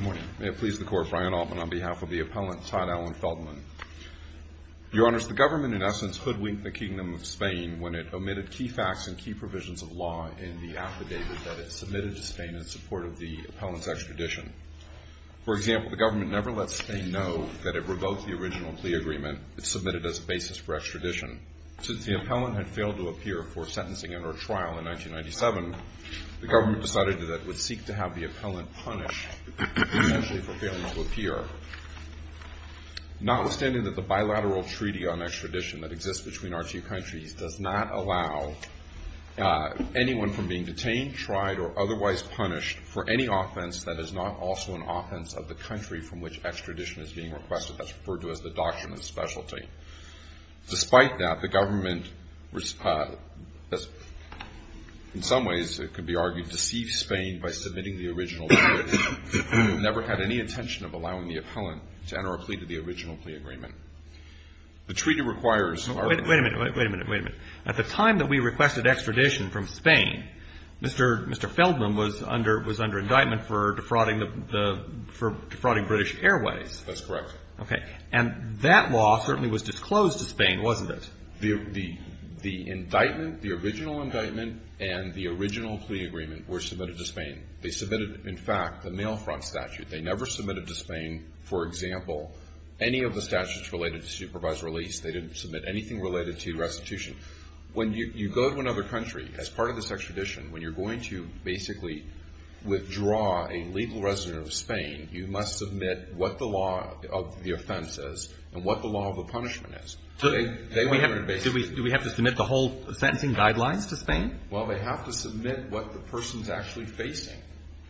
May it please the Court, Brian Altman on behalf of the Appellant, Todd Alan Feldman. Your Honors, the Government in essence hoodwinked the Kingdom of Spain when it omitted key facts and key provisions of law in the affidavit that it submitted to Spain in support of the Appellant's extradition. For example, the Government never let Spain know that it revoked the original plea agreement it submitted as a basis for extradition. Since the Appellant had failed to appear for sentencing under a trial in 1997, the Government decided that it would seek to have the Appellant punished essentially for failing to appear. Notwithstanding that the bilateral treaty on extradition that exists between our two countries does not allow anyone from being detained, tried or otherwise punished for any offense that is not also an offense of the country from which extradition is being requested. That's referred to as the Doctrine of Specialty. Despite that, the Government, in some ways it could be argued, deceived Spain by submitting the original plea agreement. It never had any intention of allowing the Appellant to enter a plea to the original plea agreement. The treaty requires our ---- Wait a minute. Wait a minute. Wait a minute. At the time that we requested extradition from Spain, Mr. Feldman was under indictment for defrauding British Airways. That's correct. Okay. And that law certainly was disclosed to Spain, wasn't it? The indictment, the original indictment and the original plea agreement were submitted to Spain. They submitted, in fact, the mail front statute. They never submitted to Spain, for example, any of the statutes related to supervised release. They didn't submit anything related to restitution. When you go to another country as part of this extradition, when you're going to basically withdraw a legal resident of Spain, you must submit what the law of the offense is and what the law of the punishment is. Do we have to submit the whole sentencing guidelines to Spain? Well, they have to submit what the person is actually facing.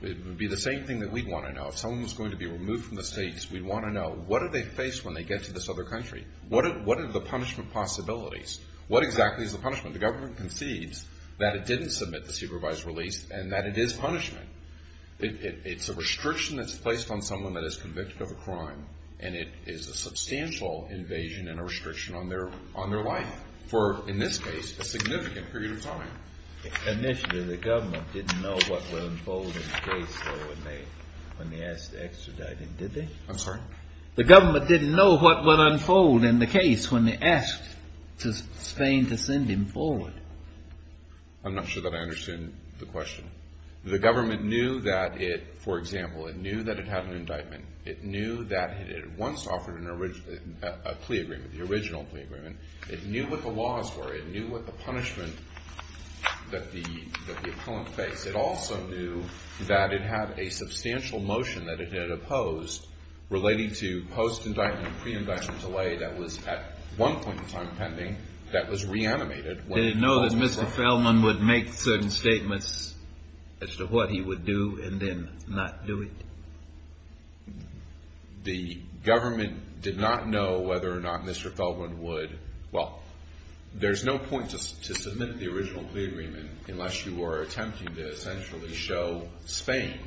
It would be the same thing that we'd want to know. If someone was going to be removed from the States, we'd want to know, what do they face when they get to this other country? What are the punishment possibilities? What exactly is the punishment? The Government concedes that it didn't submit the supervised release and that it is punishment. It's a restriction that's placed on someone that is convicted of a crime, and it is a substantial invasion and a restriction on their life for, in this case, a significant period of time. Initially, the Government didn't know what would unfold in the case when they asked to extradite him, did they? I'm sorry? The Government didn't know what would unfold in the case when they asked Spain to send him forward. I'm not sure that I understand the question. The Government knew that it, for example, it knew that it had an indictment. It knew that it had once offered a plea agreement, the original plea agreement. It knew what the laws were. It knew what the punishment that the appellant faced. It also knew that it had a substantial motion that it had opposed, relating to post-indictment and pre-indictment delay that was at one point in time pending, that was reanimated. Did it know that Mr. Feldman would make certain statements as to what he would do and then not do it? The Government did not know whether or not Mr. Feldman would, well, there's no point to submit the original plea agreement unless you are attempting to essentially show Spain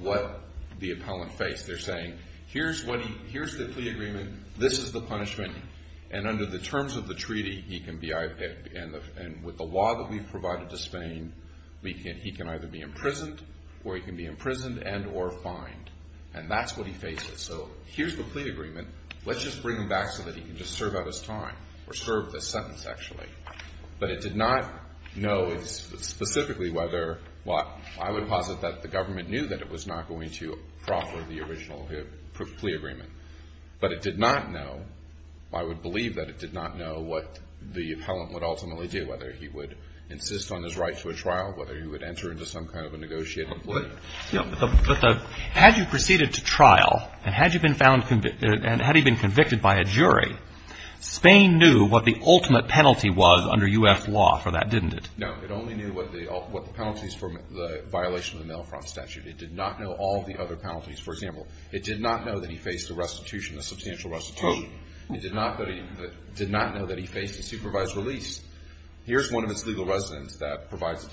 what the appellant faced. They're saying, here's the plea agreement, this is the punishment, and under the terms of the treaty, he can be, and with the law that we've provided to Spain, he can either be imprisoned or he can be imprisoned and or fined. And that's what he faces. So here's the plea agreement. Let's just bring him back so that he can just serve up his time or serve this sentence, actually. But it did not know specifically whether, well, I would posit that the Government knew that it was not going to But it did not know, I would believe that it did not know what the appellant would ultimately do, whether he would insist on his right to a trial, whether he would enter into some kind of a negotiated plea. But had you proceeded to trial and had you been found and had he been convicted by a jury, Spain knew what the ultimate penalty was under U.S. law for that, didn't it? No. It only knew what the penalties for the violation of the Mail Front Statute. It did not know all the other penalties. For example, it did not know that he faced a restitution, a substantial restitution. It did not know that he faced a supervised release. Here's one of its legal residents that provides,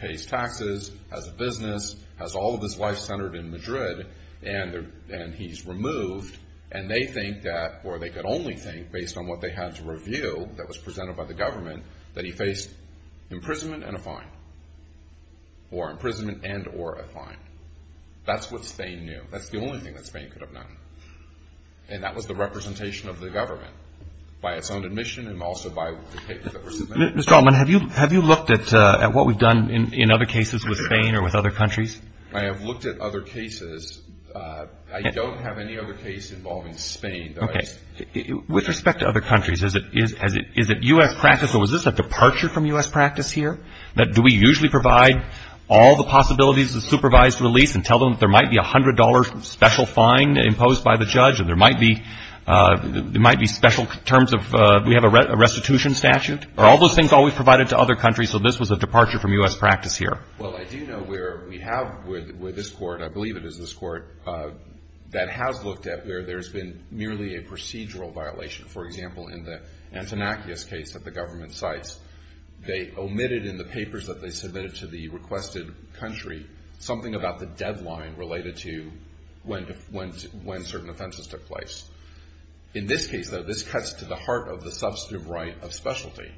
pays taxes, has a business, has all of his life centered in Madrid, and he's removed, and they think that, or they could only think, based on what they had to review that was presented by the Government, that he faced imprisonment and a fine, or imprisonment and or a fine. That's what Spain knew. That's the only thing that Spain could have known. And that was the representation of the Government by its own admission and also by the papers that were submitted. Mr. Altman, have you looked at what we've done in other cases with Spain or with other countries? I have looked at other cases. I don't have any other case involving Spain. Okay. With respect to other countries, is it U.S. practice, or was this a departure from U.S. practice here, that do we usually provide all the possibilities of supervised release and tell them that there might be a $100 special fine imposed by the judge, or there might be special terms of, do we have a restitution statute? Are all those things always provided to other countries, so this was a departure from U.S. practice here? Well, I do know where we have with this Court, I believe it is this Court, that has looked at where there's been merely a procedural violation. For example, in the Antinakis case that the Government cites, they omitted in the papers that they submitted to the requested country something about the deadline related to when certain offenses took place. In this case, though, this cuts to the heart of the substantive right of specialty.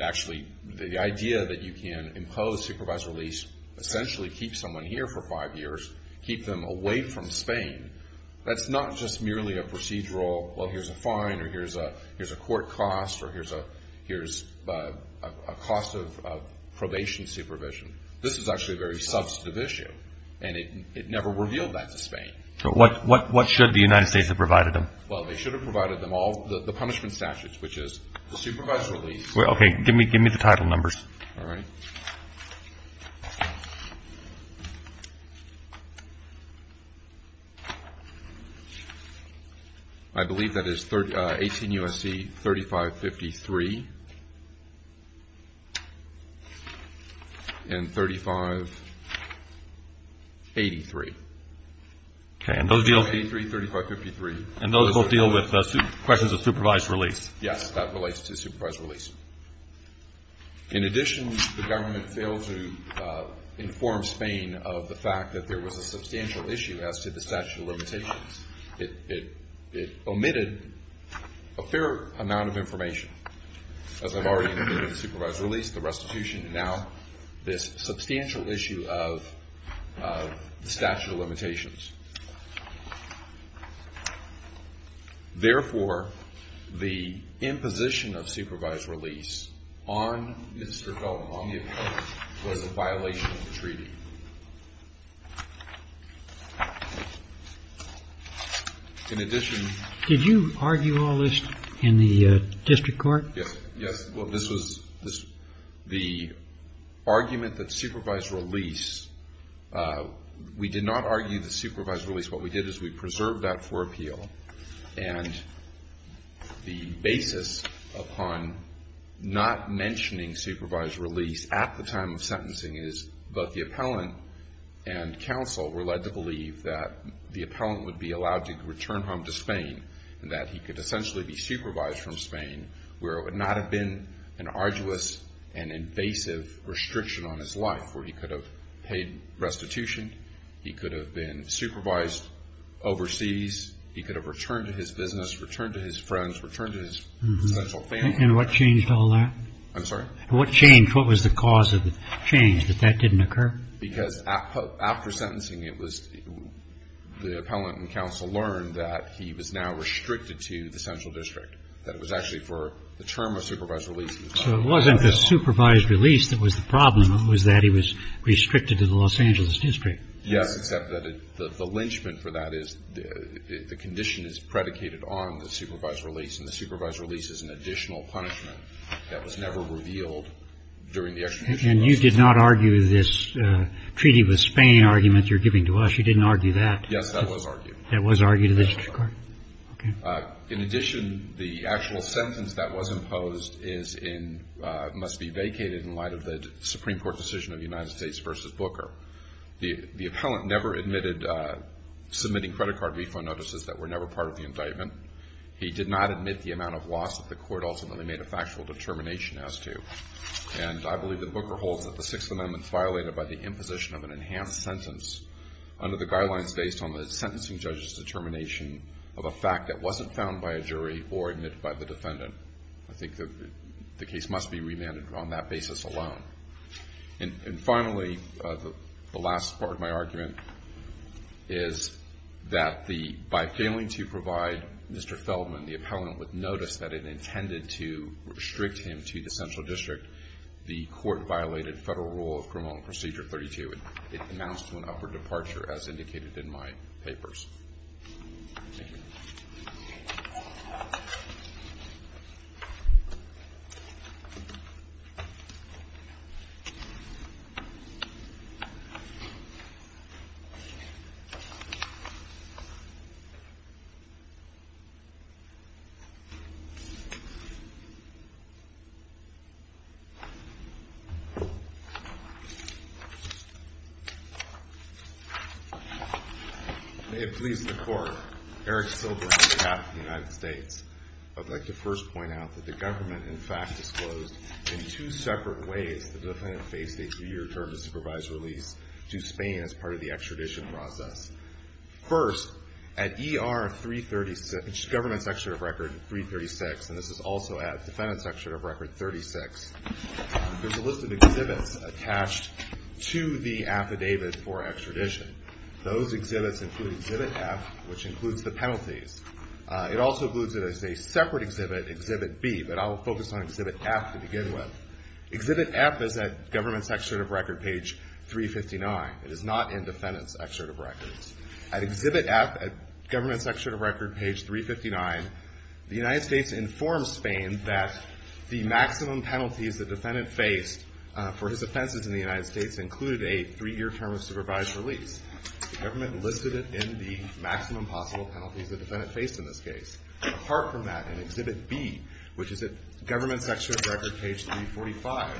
Actually, the idea that you can impose supervised release essentially keeps someone here for five years, keep them away from Spain, that's not just merely a procedural, well, here's a fine, or here's a court cost, or here's a cost of probation supervision. This is actually a very substantive issue, and it never revealed that to Spain. What should the United States have provided them? Well, they should have provided them all the punishment statutes, which is the supervised release. Okay, give me the title numbers. I believe that is 18 U.S.C. 3553 and 3583. Okay, and those will deal with questions of supervised release? Yes, that relates to supervised release. In addition, the Government failed to inform Spain of the fact that there was a substantial issue as to the statute of limitations. It omitted a fair amount of information, as I've already admitted, the supervised release, the restitution, and now this substantial issue of the statute of limitations. Therefore, the imposition of supervised release on Mr. Felton, on the appellant, was a violation of the treaty. In addition. Did you argue all this in the district court? Yes, well, this was the argument that supervised release, we did not argue the supervised release, what we did is we preserved that for appeal and the basis upon not mentioning supervised release at the time of sentencing is that the appellant and counsel were led to believe that the appellant would be allowed to return home to Spain and that he could essentially be supervised from Spain, where it would not have been an arduous and invasive restriction on his life, where he could have paid restitution, he could have been supervised overseas, he could have returned to his business, returned to his friends, returned to his essential family. And what changed all that? I'm sorry? What changed? What was the cause of the change that that didn't occur? Because after sentencing, it was the appellant and counsel learned that he was now restricted to the central district, that it was actually for the term of supervised release. So it wasn't the supervised release that was the problem. It was that he was restricted to the Los Angeles district. Yes, except that the lynchment for that is the condition is predicated on the supervised release, and the supervised release is an additional punishment that was never revealed during the extradition lawsuit. And you did not argue this treaty with Spain argument you're giving to us? You didn't argue that? Yes, that was argued. That was argued in the district court? In addition, the actual sentence that was imposed must be vacated in light of the Supreme Court decision of United States versus Booker. The appellant never admitted submitting credit card reflow notices that were never part of the indictment. He did not admit the amount of loss that the court ultimately made a factual determination as to. And I believe that Booker holds that the Sixth Amendment is violated by the imposition of an enhanced sentence under the guidelines based on the sentencing judge's determination of a fact that wasn't found by a jury or admitted by the defendant. I think the case must be remanded on that basis alone. And finally, the last part of my argument is that by failing to provide Mr. Feldman, the appellant would notice that it intended to restrict him to the central district. The court violated federal rule of criminal procedure 32. It amounts to an upward departure, as indicated in my papers. Thank you. May it please the court. Eric Silber on behalf of the United States. I'd like to first point out that the government, in fact, disclosed in two separate ways the defendant faced a three-year term of supervised release to Spain as part of the extradition process. First, at ER 336, which is government's extraditive record 336, and this is also at defendant's extraditive record 36, there's a list of exhibits attached to the affidavit for extradition. Those exhibits include Exhibit F, which includes the penalties. It also includes a separate exhibit, Exhibit B, but I'll focus on Exhibit F to begin with. Exhibit F is at government's extraditive record page 359. It is not in defendant's extraditive records. At Exhibit F, at government's extraditive record page 359, the United States informed Spain that the maximum penalties the defendant faced for his offenses in the United States included a three-year term of supervised release. The government listed it in the maximum possible penalties the defendant faced in this case. Apart from that, in Exhibit B, which is at government's extraditive record page 345,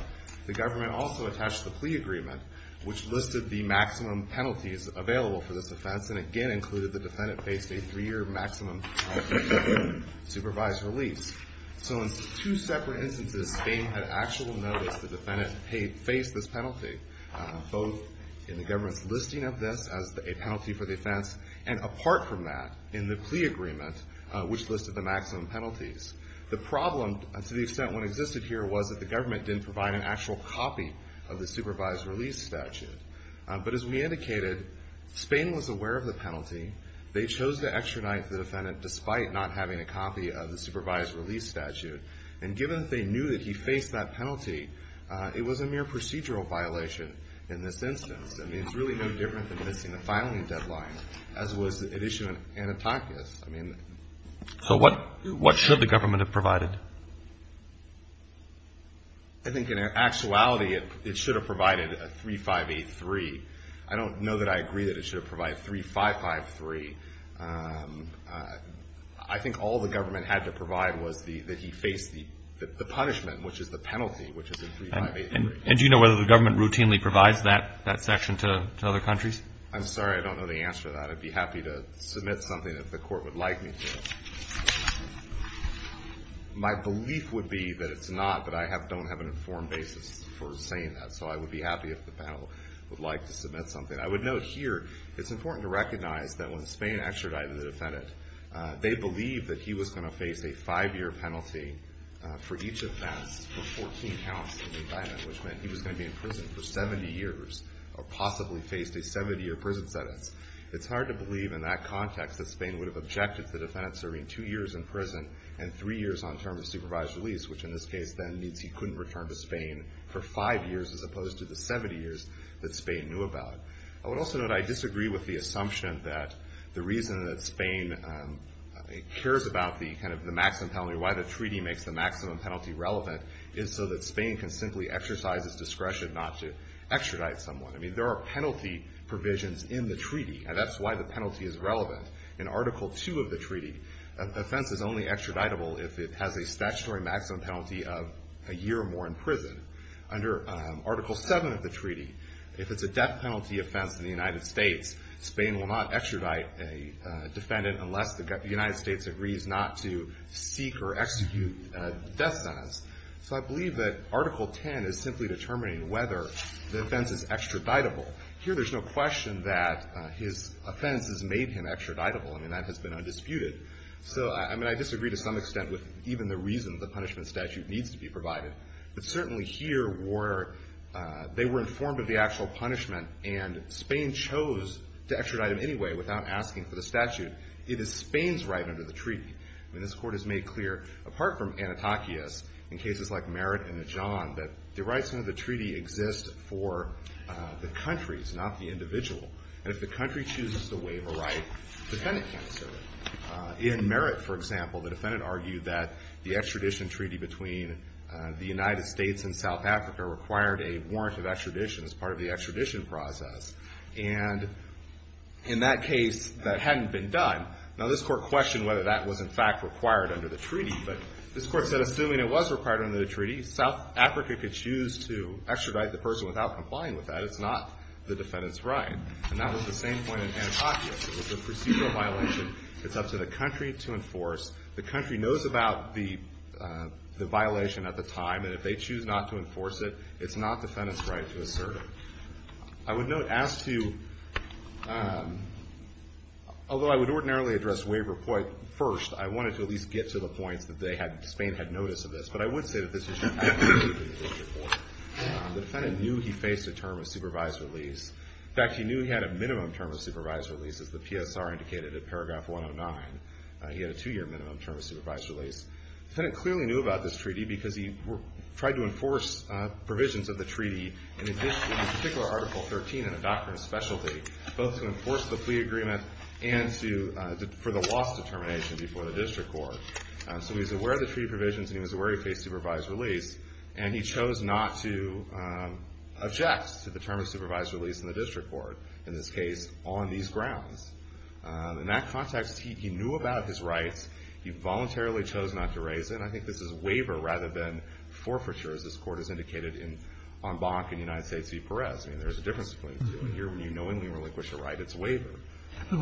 the government also attached the plea agreement, which listed the maximum penalties available for this offense and again included the defendant faced a three-year maximum supervised release. So in two separate instances, Spain had actual noticed the defendant faced this penalty, both in the government's listing of this as a penalty for the offense and apart from that in the plea agreement, which listed the maximum penalties. The problem, to the extent one existed here, was that the government didn't provide an actual copy of the supervised release statute. But as we indicated, Spain was aware of the penalty. They chose to extradite the defendant despite not having a copy of the supervised release statute. And given that they knew that he faced that penalty, it was a mere procedural violation in this instance. I mean, it's really no different than missing the filing deadline, as was the issue in Anitakis. I mean... So what should the government have provided? I think in actuality it should have provided a 3583. I don't know that I agree that it should have provided 3553. I think all the government had to provide was that he faced the punishment, which is the penalty, which is a 3583. And do you know whether the government routinely provides that section to other countries? I'm sorry, I don't know the answer to that. I'd be happy to submit something if the court would like me to. My belief would be that it's not, but I don't have an informed basis for saying that. So I would be happy if the panel would like to submit something. I would note here it's important to recognize that when Spain extradited the defendant, they believed that he was going to face a five-year penalty for each offense for 14 counts of indictment, which meant he was going to be in prison for 70 years or possibly faced a 70-year prison sentence. It's hard to believe in that context that Spain would have objected to the defendant serving two years in prison and three years on term of supervised release, which in this case then means he couldn't return to Spain for five years as opposed to the 70 years that Spain knew about. I would also note I disagree with the assumption that the reason that Spain cares about the kind of the maximum penalty, why the treaty makes the maximum penalty relevant, is so that Spain can simply exercise its discretion not to extradite someone. I mean, there are penalty provisions in the treaty, and that's why the penalty is relevant. In Article 2 of the treaty, an offense is only extraditable if it has a statutory maximum penalty of a year or more in prison. Under Article 7 of the treaty, if it's a death penalty offense in the United States, Spain will not extradite a defendant unless the United States agrees not to seek or execute a death sentence. So I believe that Article 10 is simply determining whether the offense is extraditable. Here there's no question that his offense has made him extraditable. I mean, that has been undisputed. So, I mean, I disagree to some extent with even the reason the punishment statute needs to be provided. But certainly here they were informed of the actual punishment, and Spain chose to extradite him anyway without asking for the statute. It is Spain's right under the treaty. I mean, this Court has made clear, apart from Anitakis, in cases like Merritt and Najon, that the rights under the treaty exist for the countries, not the individual. And if the country chooses to waive a right, the defendant can't serve it. In Merritt, for example, the defendant argued that the extradition treaty between the United States and South Africa required a warrant of extradition as part of the extradition process. And in that case, that hadn't been done. Now, this Court questioned whether that was, in fact, required under the treaty. But this Court said, assuming it was required under the treaty, South Africa could choose to extradite the person without complying with that. It's not the defendant's right. And that was the same point in Anitakis. It was a procedural violation. It's up to the country to enforce. The country knows about the violation at the time. And if they choose not to enforce it, it's not the defendant's right to serve. I would note, as to, although I would ordinarily address waiver first, I wanted to at least get to the points that Spain had notice of this. But I would say that this issue has to be reviewed in this report. The defendant knew he faced a term of supervised release. In fact, he knew he had a minimum term of supervised release, as the PSR indicated in paragraph 109. He had a two-year minimum term of supervised release. The defendant clearly knew about this treaty because he tried to enforce provisions of the treaty in particular Article 13 in a doctrine of specialty, both to enforce the plea agreement and for the loss determination before the district court. So he was aware of the treaty provisions, and he was aware he faced supervised release. And he chose not to object to the term of supervised release in the district court, in this case, on these grounds. In that context, he knew about his rights. He voluntarily chose not to raise it. And I think this is waiver rather than forfeiture, as this Court has indicated on Bonk and United States v. Perez. I mean, there's a difference between doing it here when you knowingly relinquish a right. It's waiver.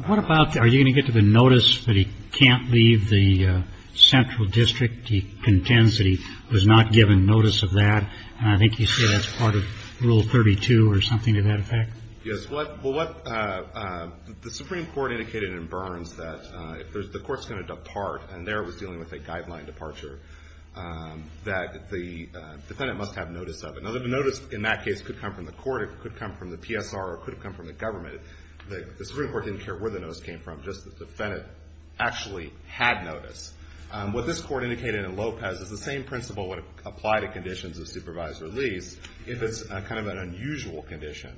What about, are you going to get to the notice that he can't leave the central district? He contends that he was not given notice of that. And I think you say that's part of Rule 32 or something to that effect. Yes. Well, what the Supreme Court indicated in Burns that if there's the court's going to depart, and there it was dealing with a guideline departure, that the defendant must have notice of it. Now, the notice in that case could come from the court, it could come from the PSR, or it could have come from the government. The Supreme Court didn't care where the notice came from, just the defendant actually had notice. What this Court indicated in Lopez is the same principle would apply to conditions of supervised release if it's kind of an unusual condition.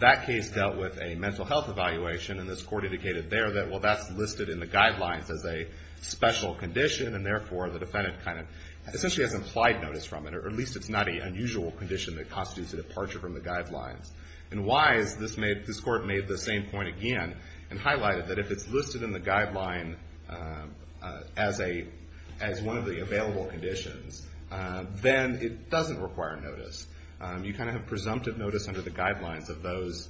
That case dealt with a mental health evaluation, and this Court indicated there that, well, that's listed in the guidelines as a special condition, and therefore the defendant kind of essentially has implied notice from it, or at least it's not an unusual condition that constitutes a departure from the guidelines. In Wise, this Court made the same point again and highlighted that if it's listed in the guideline as one of the available conditions, then it doesn't require notice. You kind of have presumptive notice under the guidelines of those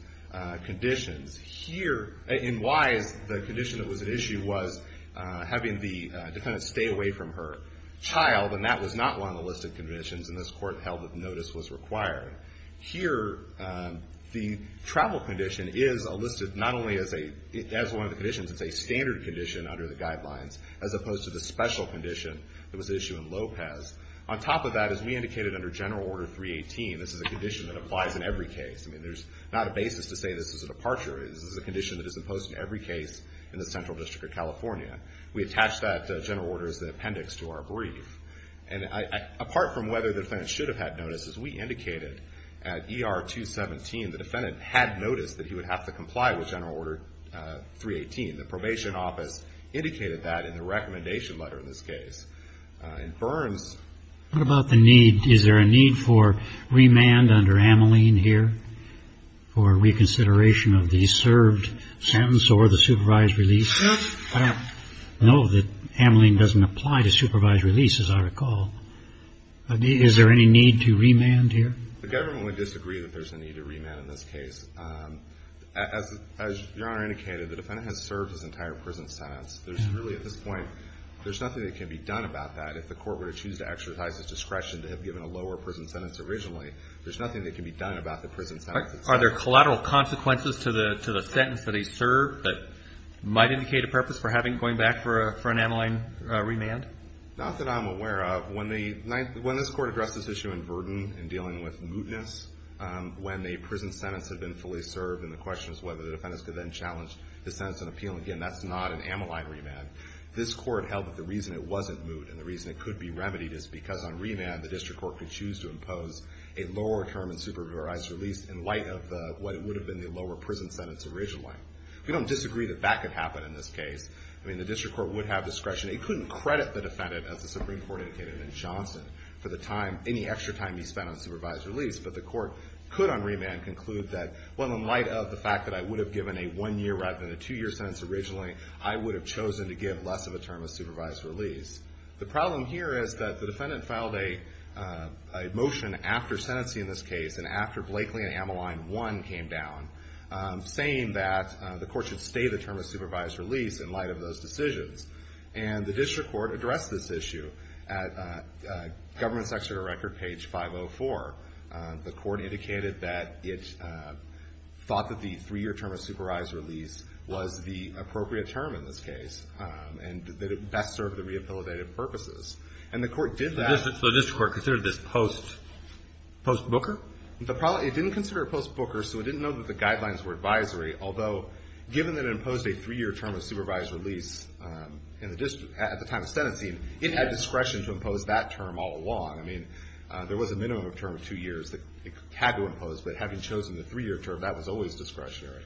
conditions. Here, in Wise, the condition that was at issue was having the defendant stay away from her child, and that was not one of the listed conditions, and this Court held that notice was required. Here, the travel condition is listed not only as one of the conditions, it's a standard condition under the guidelines, as opposed to the special condition that was at issue in Lopez. On top of that, as we indicated under General Order 318, this is a condition that applies in every case. I mean, there's not a basis to say this is a departure. This is a condition that is imposed in every case in the Central District of California. We attach that General Order as the appendix to our brief. And apart from whether the defendant should have had notice, as we indicated at ER 217, the defendant had notice that he would have to comply with General Order 318. The Probation Office indicated that in the recommendation letter in this case. In Burns. What about the need? Is there a need for remand under Ameline here for reconsideration of the served sentence or the supervised release? I know that Ameline doesn't apply to supervised releases, I recall. Is there any need to remand here? The government would disagree that there's a need to remand in this case. As Your Honor indicated, the defendant has served his entire prison sentence. There's really, at this point, there's nothing that can be done about that. If the court were to choose to exercise his discretion to have given a lower prison sentence originally, there's nothing that can be done about the prison sentence itself. Are there collateral consequences to the sentence that he served that might indicate a purpose for going back for an Ameline remand? Not that I'm aware of. When this Court addressed this issue in Verdon in dealing with mootness, when the prison sentence had been fully served and the question was whether the defendant could then challenge the sentence and appeal, again, that's not an Ameline remand. This Court held that the reason it wasn't moot and the reason it could be remedied is because on remand the district court could choose to impose a lower term in supervised release in light of what would have been the lower prison sentence originally. We don't disagree that that could happen in this case. I mean, the district court would have discretion. It couldn't credit the defendant, as the Supreme Court indicated in Johnson, for the time, any extra time he spent on supervised release, but the court could on remand conclude that, well, in light of the fact that I would have given a one-year rather than a two-year sentence originally, I would have chosen to give less of a term of supervised release. The problem here is that the defendant filed a motion after sentencing this case and after Blakely and Ameline 1 came down, saying that the court should stay the term of supervised release in light of those decisions. And the district court addressed this issue at Government Secretary Record, page 504. The court indicated that it thought that the three-year term of supervised release was the appropriate term in this case and that it best served the rehabilitative purposes. And the court did that. So the district court considered this post-Booker? It didn't consider it post-Booker, so it didn't know that the guidelines were advisory, although given that it imposed a three-year term of supervised release at the time of sentencing, it had discretion to impose that term all along. I mean, there was a minimum term of two years that it had to impose, but having chosen the three-year term, that was always discretionary.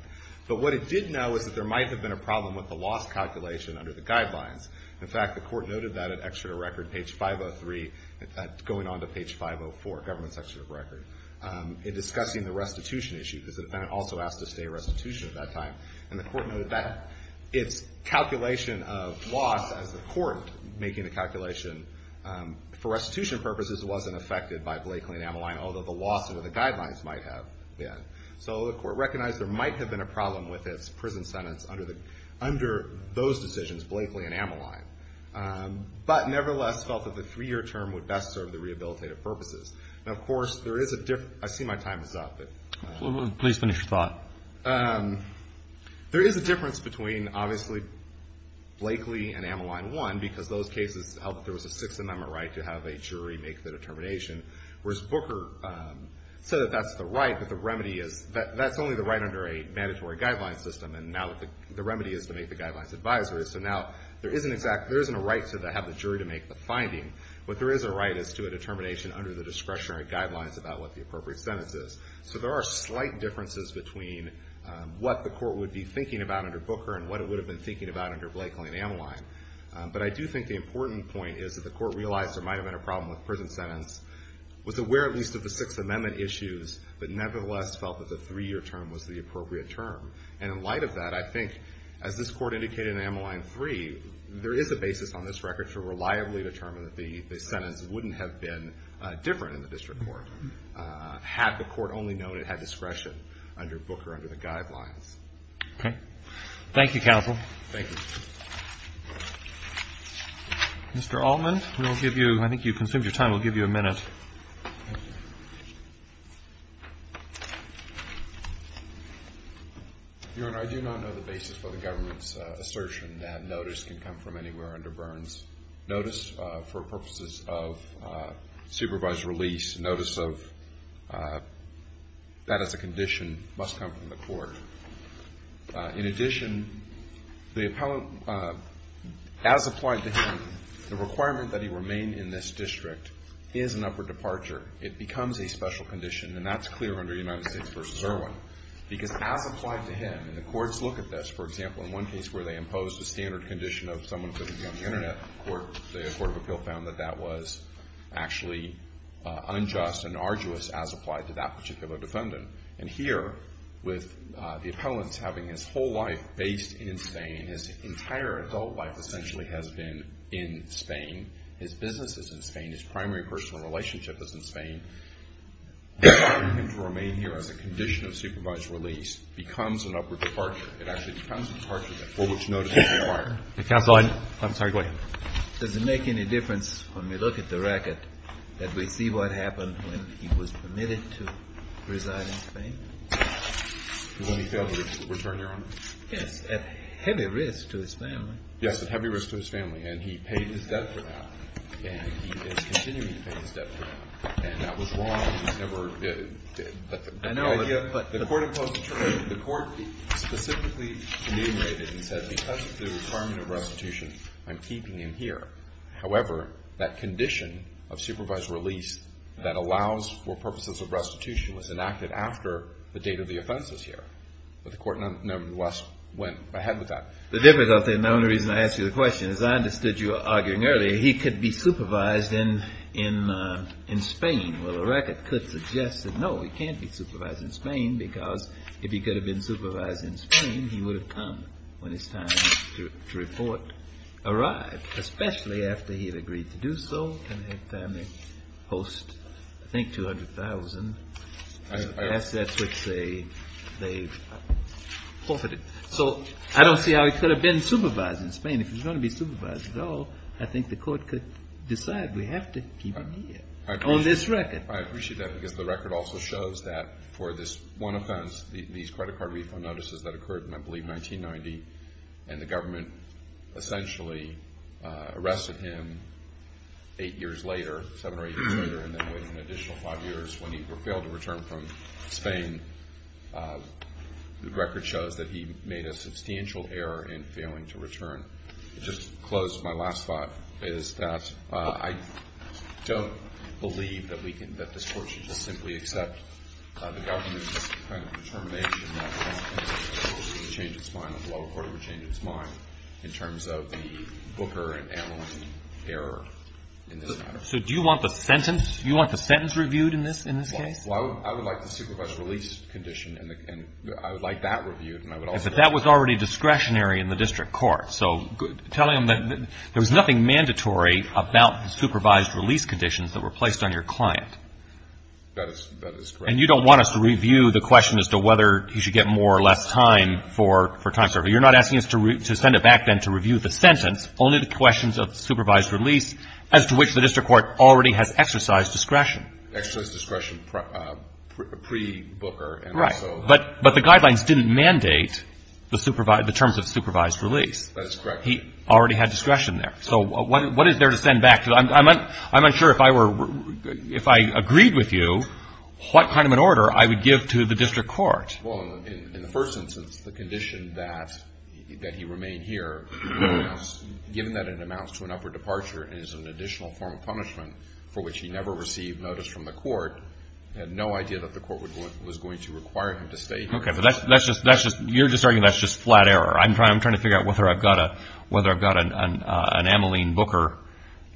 But what it did know is that there might have been a problem with the loss calculation under the guidelines. In fact, the court noted that at Exeter Record, page 503, going on to page 504, Government Secretary Record, in discussing the restitution issue, because the defendant also asked to stay restitution at that time, and the court noted that. Its calculation of loss as the court making the calculation for restitution purposes wasn't affected by Blakely and Ameline, although the loss under the guidelines might have been. So the court recognized there might have been a problem with its prison sentence under those decisions, Blakely and Ameline, but nevertheless felt that the three-year term would best serve the rehabilitative purposes. Now, of course, there is a difference. I see my time is up. Please finish your thought. There is a difference between, obviously, Blakely and Ameline, one, because those cases held that there was a Sixth Amendment right to have a jury make the determination, whereas Booker said that that's the right, but that's only the right under a mandatory guideline system, and now the remedy is to make the guidelines advisory. So now there isn't a right to have the jury to make the finding. What there is a right is to a determination under the discretionary guidelines about what the appropriate sentence is. So there are slight differences between what the court would be thinking about under Booker and what it would have been thinking about under Blakely and Ameline. But I do think the important point is that the court realized there might have been a problem with prison sentence, was aware at least of the Sixth Amendment issues, but nevertheless felt that the three-year term was the appropriate term. And in light of that, I think, as this court indicated in Ameline 3, there is a basis on this record to reliably determine that the sentence wouldn't have been different in the district court had the court only known it had discretion under Booker under the guidelines. Okay. Thank you, counsel. Thank you. Mr. Altman, we'll give you – I think you've consumed your time. We'll give you a minute. Thank you. Your Honor, I do not know the basis for the government's assertion that notice can come from anywhere under Burns. Notice for purposes of supervised release, notice of that as a condition must come from the court. In addition, as applied to him, the requirement that he remain in this district is an upper departure. It becomes a special condition, and that's clear under United States v. Irwin. Because as applied to him, and the courts look at this. For example, in one case where they imposed a standard condition of someone putting on the Internet, the court of appeal found that that was actually unjust and arduous as applied to that particular defendant. And here, with the appellant's having his whole life based in Spain, his entire adult life essentially has been in Spain, his business is in Spain, his primary personal relationship is in Spain, for him to remain here as a condition of supervised release becomes an upper departure. It actually becomes a departure that for which notice is required. Counsel, I'm sorry. Go ahead. Does it make any difference when we look at the record that we see what happened when he was permitted to reside in Spain? When he failed to return, Your Honor? Yes. At heavy risk to his family. Yes. At heavy risk to his family. And he paid his debt for that. And he is continuing to pay his debt for that. And that was wrong. He never did. I know, but the court imposed a term. However, that condition of supervised release that allows for purposes of restitution was enacted after the date of the offense was here. But the court nonetheless went ahead with that. The difficulty, and the only reason I ask you the question, is I understood you arguing earlier he could be supervised in Spain. Well, the record could suggest that no, he can't be supervised in Spain because if he could have been supervised in Spain, he would have come when his time to report arrived, especially after he had agreed to do so and his family host, I think, 200,000 assets which they forfeited. So I don't see how he could have been supervised in Spain. If he's going to be supervised at all, I think the court could decide we have to keep him here on this record. I appreciate that because the record also shows that for this one offense, these credit card refund notices that occurred in, I believe, 1990, and the government essentially arrested him eight years later, seven or eight years later, and then waited an additional five years when he failed to return from Spain. The record shows that he made a substantial error in failing to return. Just to close, my last thought is that I don't believe that this court should simply accept the government's kind of determination that the lower court would change its mind in terms of the Booker and Ameline error in this matter. So do you want the sentence reviewed in this case? Well, I would like the supervised release condition, and I would like that reviewed. But that was already discretionary in the district court. So telling them that there was nothing mandatory about the supervised release conditions that were placed on your client. That is correct. And you don't want us to review the question as to whether he should get more or less time for time service. You're not asking us to send it back then to review the sentence, only the questions of supervised release, as to which the district court already has exercise discretion. Exercise discretion pre-Booker. Right. But the guidelines didn't mandate the terms of supervised release. That's correct. He already had discretion there. So what is there to send back? Because I'm unsure if I agreed with you what kind of an order I would give to the district court. Well, in the first instance, the condition that he remain here, given that it amounts to an upward departure and is an additional form of punishment for which he never received notice from the court, had no idea that the court was going to require him to stay here. Okay. But you're just arguing that's just flat error. I'm trying to figure out whether I've got an Ameline Booker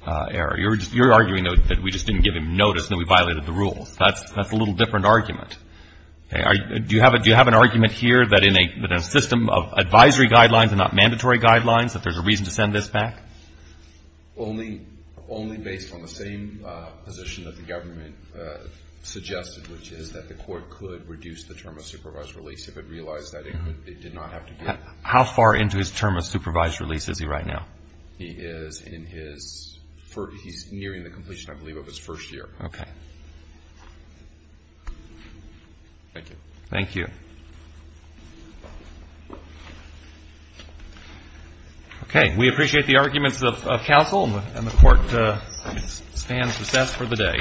error. You're arguing that we just didn't give him notice and we violated the rules. That's a little different argument. Do you have an argument here that in a system of advisory guidelines and not mandatory guidelines that there's a reason to send this back? Only based on the same position that the government suggested, which is that the court could reduce the term of supervised release if it realized that it did not have to be. How far into his term of supervised release is he right now? He is in his first. He's nearing the completion, I believe, of his first year. Okay. Thank you. Thank you. Okay. We appreciate the arguments of counsel, and the court stands recessed for the day. All rise. This court is adjourned. Thank you.